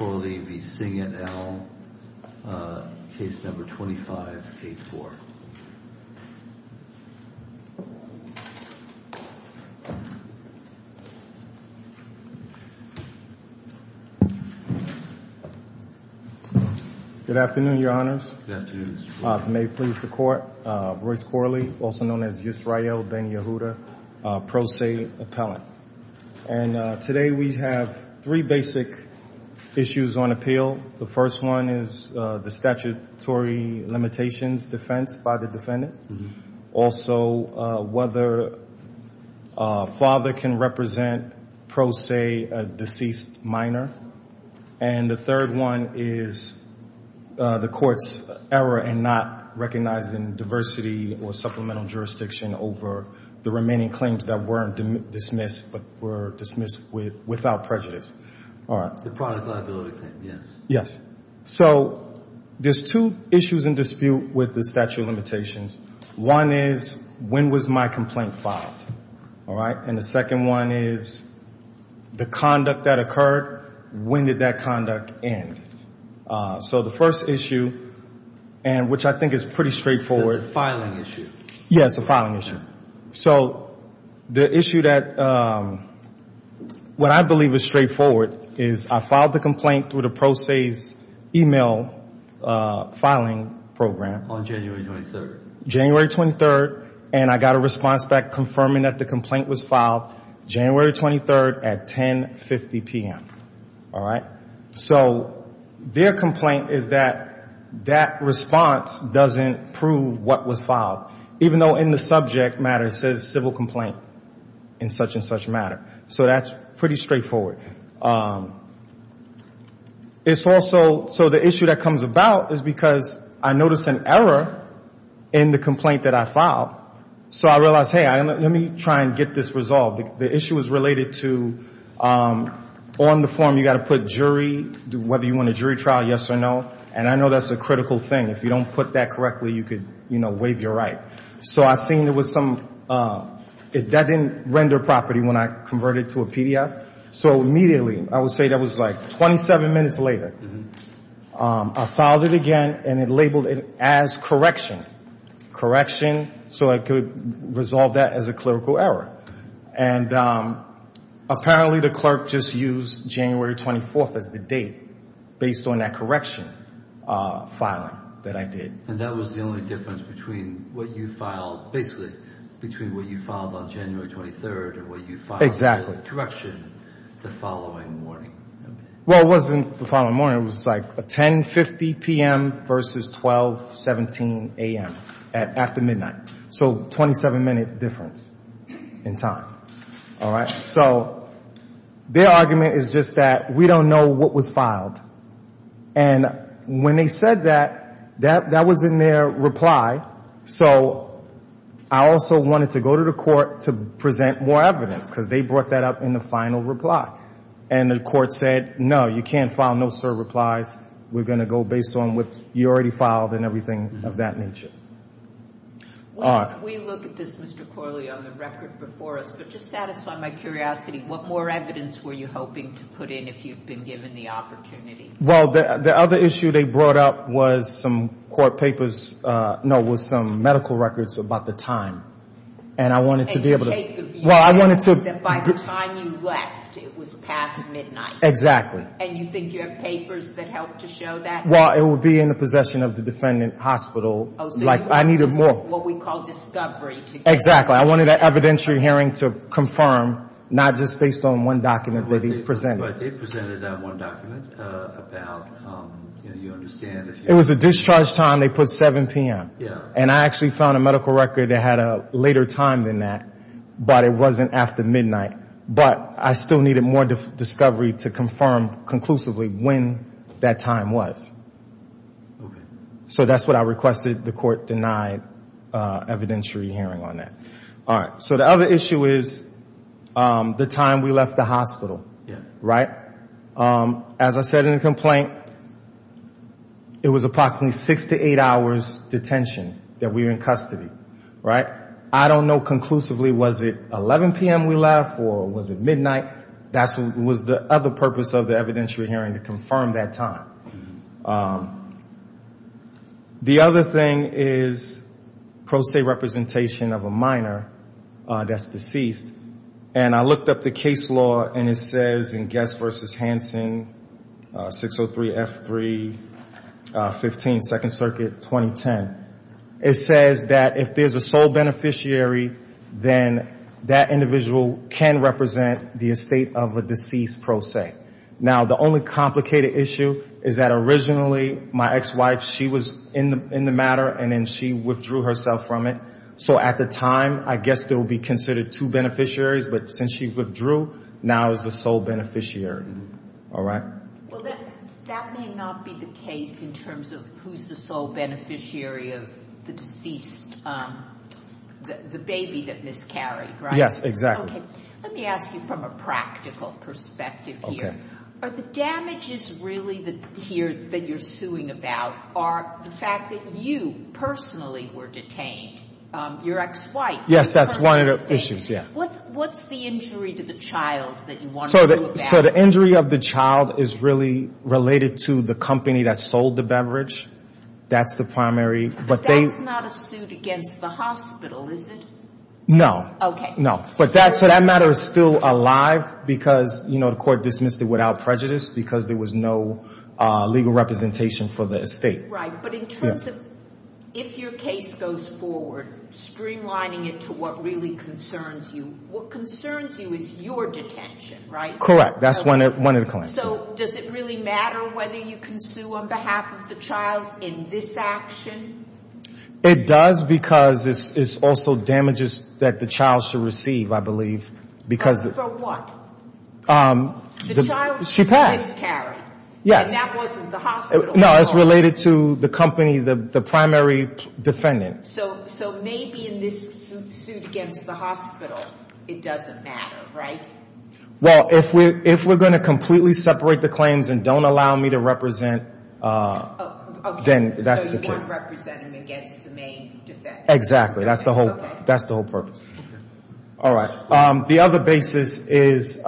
Royce Corley v. Singet, et al. Case number 2584. Good afternoon, your honors. May it please the court. Royce Corley, also known as Yisrael Ben-Yehuda, pro se appellant. And today we have three basic issues on appeal. The first one is the statutory limitations defense by the defendants. Also, whether a father can represent pro se a deceased minor. And the third one is the court's error in not recognizing diversity or supplemental jurisdiction over the remaining claims that were dismissed but were dismissed without prejudice. The product liability claim, yes. Yes. So there's two issues in dispute with the statute of limitations. One is, when was my complaint filed? And the second one is, the conduct that occurred, when did that conduct end? So the first issue, which I think is pretty straightforward. The filing issue. Yes, the filing issue. So the issue that, what I believe is straightforward, is I filed the complaint through the pro se's email filing program. On January 23rd. January 23rd. And I got a response back confirming that the complaint was filed January 23rd at 10.50 PM. All right? So their complaint is that that response doesn't prove what was filed. Even though in the subject matter it says civil complaint in such and such matter. So that's pretty straightforward. It's also, so the issue that comes about is because I noticed an error in the complaint that I filed. So I realized, hey, let me try and get this resolved. The issue is related to on the form you got to put jury, whether you want a jury trial, yes or no. And I know that's a critical thing. If you don't put that correctly, you could, you know, waive your right. So I seen there was some, that didn't render property when I converted it to a PDF. So immediately, I would say that was like 27 minutes later, I filed it again and it labeled it as correction. Correction, so I could resolve that as a clerical error. And apparently the clerk just used January 24th as the date based on that correction filing that I did. And that was the only difference between what you filed, basically, between what you filed on January 23rd and what you filed in the direction the following morning. Well, it wasn't the following morning. It was like 10.50 p.m. versus 12.17 a.m. at the midnight. So 27 minute difference in time. All right. So their argument is just that we don't know what was filed. And when they said that, that was in their reply. So I also wanted to go to the court to present more evidence because they brought that up in the final reply. And the court said, no, you can't file no-sir replies. We're going to go based on what you already filed and everything of that nature. Well, we look at this, Mr. Corley, on the record before us. But just to satisfy my curiosity, what more evidence were you hoping to put in if you'd been given the opportunity? Well, the other issue they brought up was some medical records about the time. And you take the view that by the time you left, you were going to be in jail. By the time you left, it was past midnight. Exactly. And you think you have papers that help to show that? Well, it would be in the possession of the defendant hospital. I needed more. Oh, so you wanted what we call discovery. Exactly. I wanted an evidentiary hearing to confirm, not just based on one document that they presented. But they presented that one document about, you know, you understand if you... It was a discharge time. They put 7 p.m. Yeah. And I actually found a medical record that had a later time than that, but it wasn't after midnight. But I still needed more discovery to confirm conclusively when that time was. So that's what I requested. The court denied evidentiary hearing on that. All right. So the other issue is the time we left the hospital. Yeah. Right? As I said in the complaint, it was approximately six to eight hours' detention that we were in custody. Right? I don't know conclusively was it 11 p.m. we left or was it midnight. That was the other purpose of the evidentiary hearing, to confirm that time. The other thing is pro se representation of a minor that's deceased. And I looked up the case law, and it says in Guest v. Hansen, 603F315, Second Circuit, 2010. It says that if there's a sole beneficiary, then that individual can represent the estate of a deceased pro se. Now, the only complicated issue is that originally my ex-wife, she was in the matter, and then she withdrew herself from it. So at the time, I guess there would be considered two beneficiaries, but since she withdrew, now it's the sole beneficiary. All right? Well, that may not be the case in terms of who's the sole beneficiary of the deceased, the baby that miscarried. Right? Yes. Exactly. Okay. Let me ask you from a practical perspective here. Okay. So the damages really here that you're suing about are the fact that you personally were detained, your ex-wife. Yes, that's one of the issues, yes. What's the injury to the child that you want to know about? So the injury of the child is really related to the company that sold the beverage. That's the primary. But they... But that's not a suit against the hospital, is it? No. Okay. No. So that matter is still alive because, you know, the court dismissed it without prejudice because there was no legal representation for the estate. Right. But in terms of if your case goes forward, streamlining it to what really concerns you, what concerns you is your detention, right? Correct. That's one of the claims. So does it really matter whether you can sue on behalf of the child in this action? It does because it's also damages that the child should receive, I believe, because... For what? She passed. The child was miscarried. Yes. And that wasn't the hospital. No. It's related to the company, the primary defendant. So maybe in this suit against the hospital, it doesn't matter, right? Well, if we're going to completely separate the claims and don't allow me to represent, then that's the case. You won't represent him against the main defendant. Exactly. That's the whole purpose. All right. The other basis is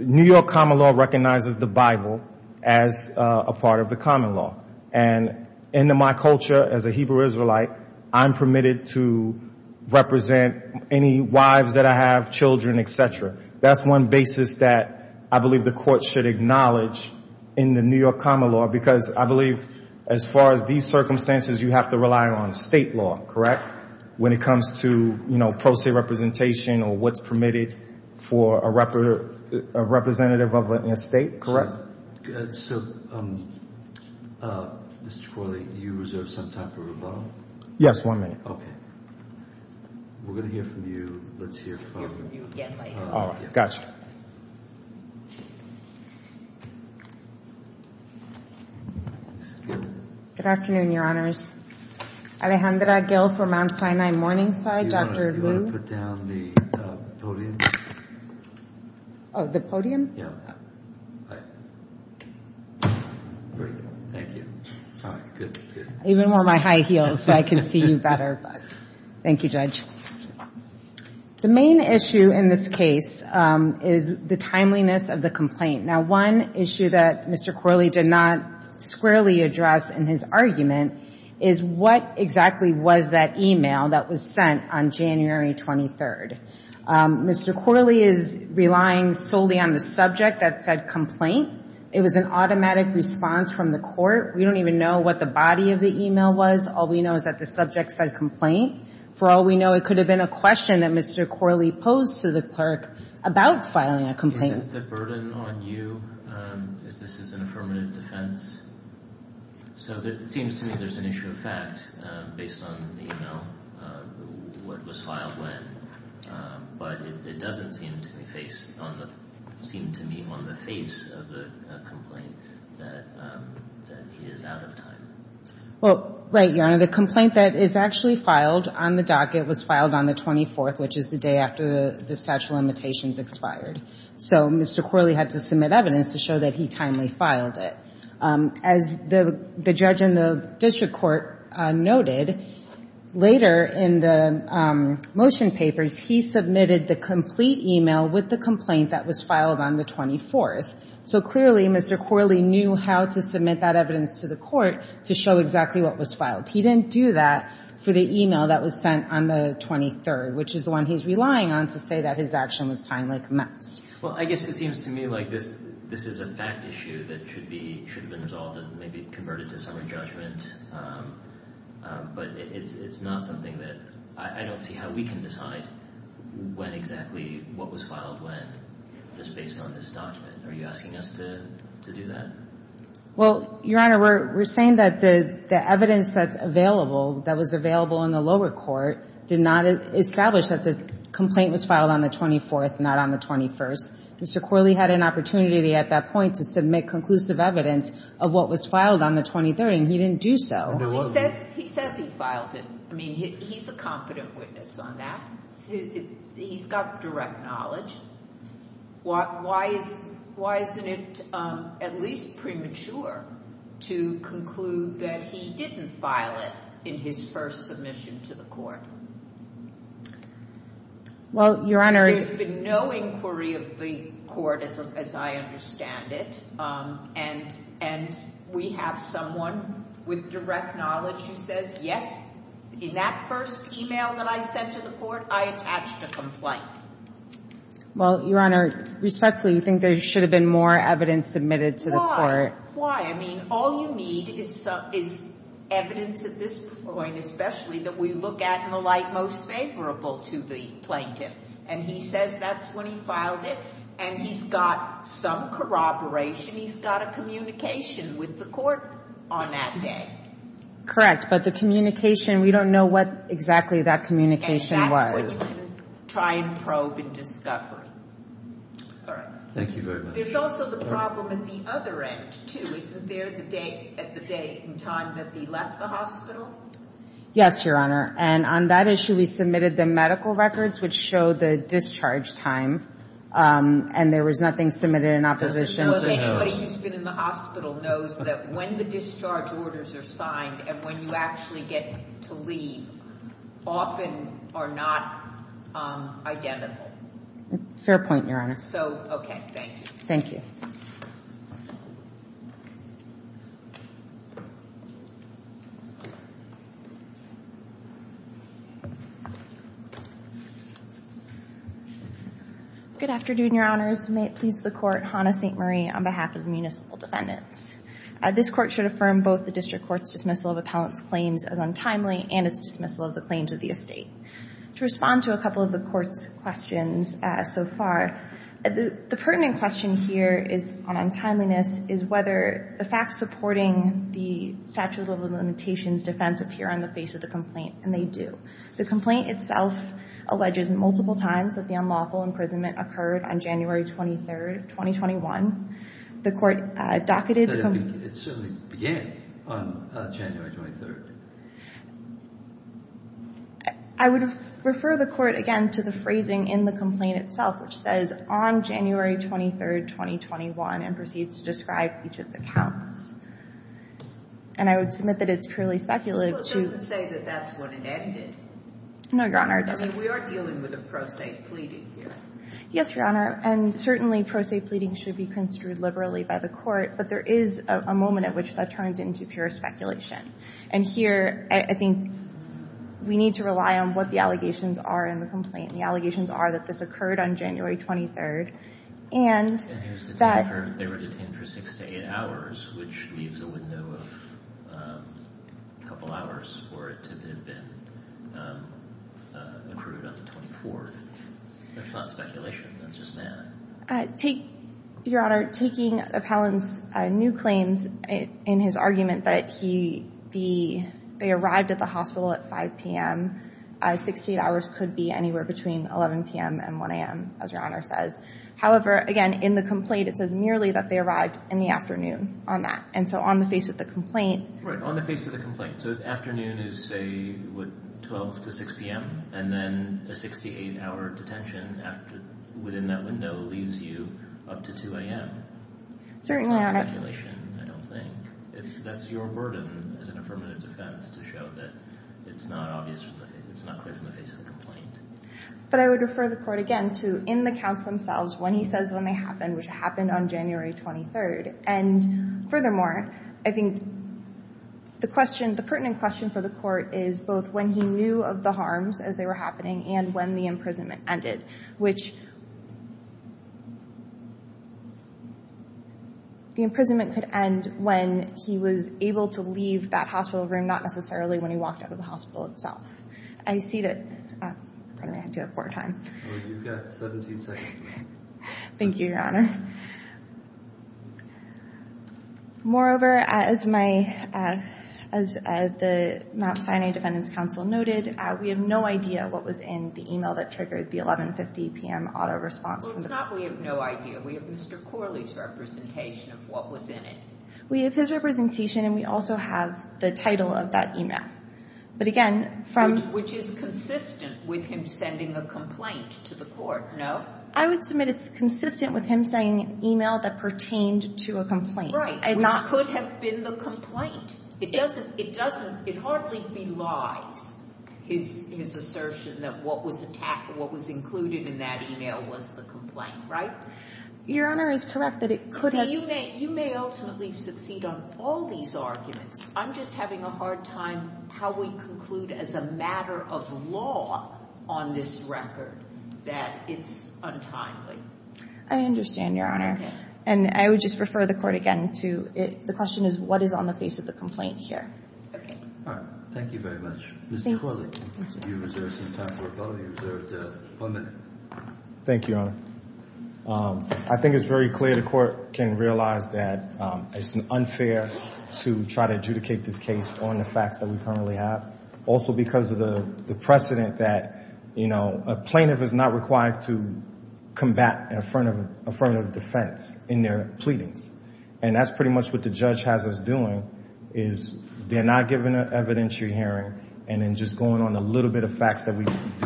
New York common law recognizes the Bible as a part of the common law. And in my culture as a Hebrew Israelite, I'm permitted to represent any wives that I have, children, et cetera. That's one basis that I believe the court should acknowledge in the New York common law because I believe as far as these circumstances, you have to rely on state law, correct? When it comes to, you know, pro se representation or what's permitted for a representative of a state, correct? So, Mr. Chaparro, do you reserve some time for rebuttal? Yes. One minute. Okay. We're going to hear from you. Let's hear from... We'll hear from you again later. All right. Gotcha. Good afternoon, Your Honors. Alejandra Gill from Mount Sinai Morningside, Dr. Lu. Do you want to put down the podium? Oh, the podium? Yeah. Great. Thank you. All right. Good. Even wore my high heels so I can see you better, but thank you, Judge. The main issue in this case is the timeliness of the complaint. Now, one issue that Mr. Corley did not squarely address in his argument is what exactly was that email that was sent on January 23rd. Mr. Corley is relying solely on the subject that said complaint. It was an automatic response from the court. We don't even know what the body of the email was. All we know is that the subject said complaint. For all we know, it could have been a question that Mr. Corley posed to the clerk about filing a complaint. Is this a burden on you? Is this an affirmative defense? So it seems to me there's an issue of facts based on the email, what was filed when. But it doesn't seem to be on the face of the complaint that he is out of time. Well, right, Your Honor. The complaint that is actually filed on the docket was filed on the 24th, which is the day after the statute of limitations expired. So Mr. Corley had to submit evidence to show that he timely filed it. As the judge in the district court noted, later in the motion papers, he submitted the complete email with the complaint that was filed on the 24th. So clearly Mr. Corley knew how to submit that evidence to the court to show exactly what was filed. He didn't do that for the email that was sent on the 23rd, which is the one he's relying on to say that his action was timely commenced. Well, I guess it seems to me like this is a fact issue that should have been resolved and maybe converted to summary judgment. But it's not something that I don't see how we can decide when exactly what was filed when was based on this document. Are you asking us to do that? Well, Your Honor, we're saying that the evidence that's available, that was available in the lower court, did not establish that the complaint was filed on the 24th, not on the 21st. Mr. Corley had an opportunity at that point to submit conclusive evidence of what was filed on the 23rd, and he didn't do so. He says he filed it. I mean, he's a competent witness on that. He's got direct knowledge. Why isn't it at least premature to conclude that he didn't file it in his first submission to the court? Well, Your Honor, There's been no inquiry of the court as I understand it, and we have someone with direct knowledge who says, Yes, in that first email that I sent to the court, I attached a complaint. Well, Your Honor, respectfully, you think there should have been more evidence submitted to the court? Why? Why? I mean, all you need is evidence at this point, especially that we look at in the light most favorable to the plaintiff. And he says that's when he filed it, and he's got some corroboration. He's got a communication with the court on that day. Correct. But the communication, we don't know what exactly that communication was. And that's what we're going to try and probe and discover. All right. Thank you very much. There's also the problem at the other end, too. Is it there at the date and time that he left the hospital? Yes, Your Honor, and on that issue, we submitted the medical records, which show the discharge time, and there was nothing submitted in opposition. Does this show that anybody who's been in the hospital knows that when the discharge orders are signed and when you actually get to leave, often are not identical? Fair point, Your Honor. So, okay, thank you. Thank you. Good afternoon, Your Honors. May it please the Court. Hannah St. Marie on behalf of the municipal defendants. This Court should affirm both the district court's dismissal of appellant's claims as untimely and its dismissal of the claims of the estate. To respond to a couple of the Court's questions so far, the pertinent question here on untimeliness is whether the facts supporting the statute of limitations defense appear on the face of the complaint, and they do. The complaint itself alleges multiple times that the unlawful imprisonment occurred on January 23, 2021. The Court docketed the complaint. But it certainly began on January 23. I would refer the Court, again, to the phrasing in the complaint itself, which says, on January 23, 2021, and proceeds to describe each of the counts. And I would submit that it's purely speculative. Well, it doesn't say that that's when it ended. No, Your Honor, it doesn't. I mean, we are dealing with a pro se pleading here. Yes, Your Honor. And certainly, pro se pleading should be construed liberally by the Court. But there is a moment at which that turns into pure speculation. And here, I think we need to rely on what the allegations are in the complaint. The allegations are that this occurred on January 23. And that they were detained for six to eight hours, which leaves a window of a couple hours for it to have been accrued on the 24th. That's not speculation. That's just math. Your Honor, taking Appellant's new claims in his argument that they arrived at the hospital at 5 p.m., six to eight hours could be anywhere between 11 p.m. and 1 a.m., as Your Honor says. However, again, in the complaint, it says merely that they arrived in the afternoon on that. And so on the face of the complaint. Right, on the face of the complaint. So the afternoon is, say, 12 to 6 p.m., and then a 68-hour detention within that window leaves you up to 2 a.m. That's not speculation, I don't think. That's your burden as an affirmative defense to show that it's not clear from the face of the complaint. But I would refer the Court again to in the counts themselves when he says when they happened, which happened on January 23. And furthermore, I think the pertinent question for the Court is both when he knew of the harms as they were happening and when the imprisonment ended, which the imprisonment could end when he was able to leave that hospital room, not necessarily when he walked out of the hospital itself. I see that I'm going to have to have more time. You've got 17 seconds. Thank you, Your Honor. Moreover, as the Mount Sinai Defendants Council noted, we have no idea what was in the email that triggered the 11.50 p.m. auto response. It's not we have no idea. We have Mr. Corley's representation of what was in it. We have his representation, and we also have the title of that email. But again, from— Which is consistent with him sending a complaint to the Court, no? I would submit it's consistent with him sending an email that pertained to a complaint. Right. Which could have been the complaint. It doesn't. It doesn't. It hardly belies his assertion that what was attacked and what was included in that email was the complaint, right? Your Honor is correct that it could have— See, you may ultimately succeed on all these arguments. I'm just having a hard time how we conclude as a matter of law on this record that it's untimely. I understand, Your Honor. Okay. And I would just refer the Court again to the question is what is on the face of the complaint here. Okay. All right. Thank you very much. Thank you. Mr. Corley, you reserved some time for a comment. You reserved one minute. Thank you, Your Honor. I think it's very clear the Court can realize that it's unfair to try to adjudicate this case on the facts that we currently have, also because of the precedent that, you know, a plaintiff is not required to combat an affirmative defense in their pleadings. And that's pretty much what the judge has us doing is they're not giving an evidentiary hearing and then just going on a little bit of facts that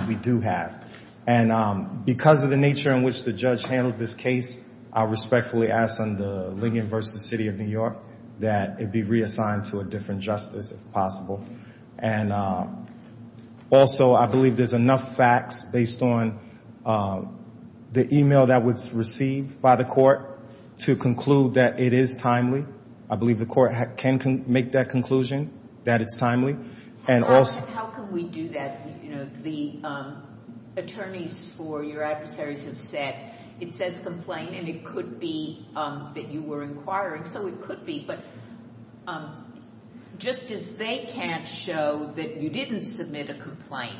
we do have. And because of the nature in which the judge handled this case, I respectfully ask under Lincoln v. City of New York that it be reassigned to a different justice if possible. And also, I believe there's enough facts based on the e-mail that was received by the Court to conclude that it is timely. I believe the Court can make that conclusion, that it's timely. How can we do that? You know, the attorneys for your adversaries have said it says complaint, and it could be that you were inquiring. So it could be, but just as they can't show that you didn't submit a complaint,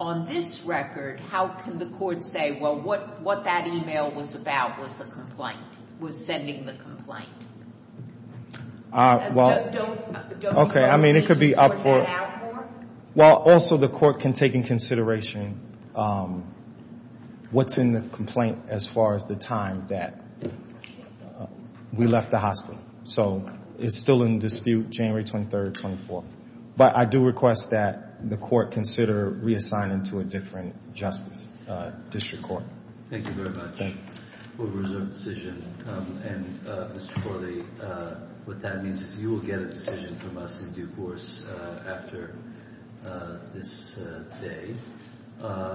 on this record, how can the Court say, well, what that e-mail was about was the complaint, was sending the complaint? Well, okay. I mean, it could be up for, well, also the Court can take into consideration what's in the complaint as far as the time that we left the hospital. So it's still in dispute, January 23rd, 24th. But I do request that the Court consider reassigning to a different justice, district court. Thank you very much. And, Mr. Corley, what that means is you will get a decision from us in due course after this day.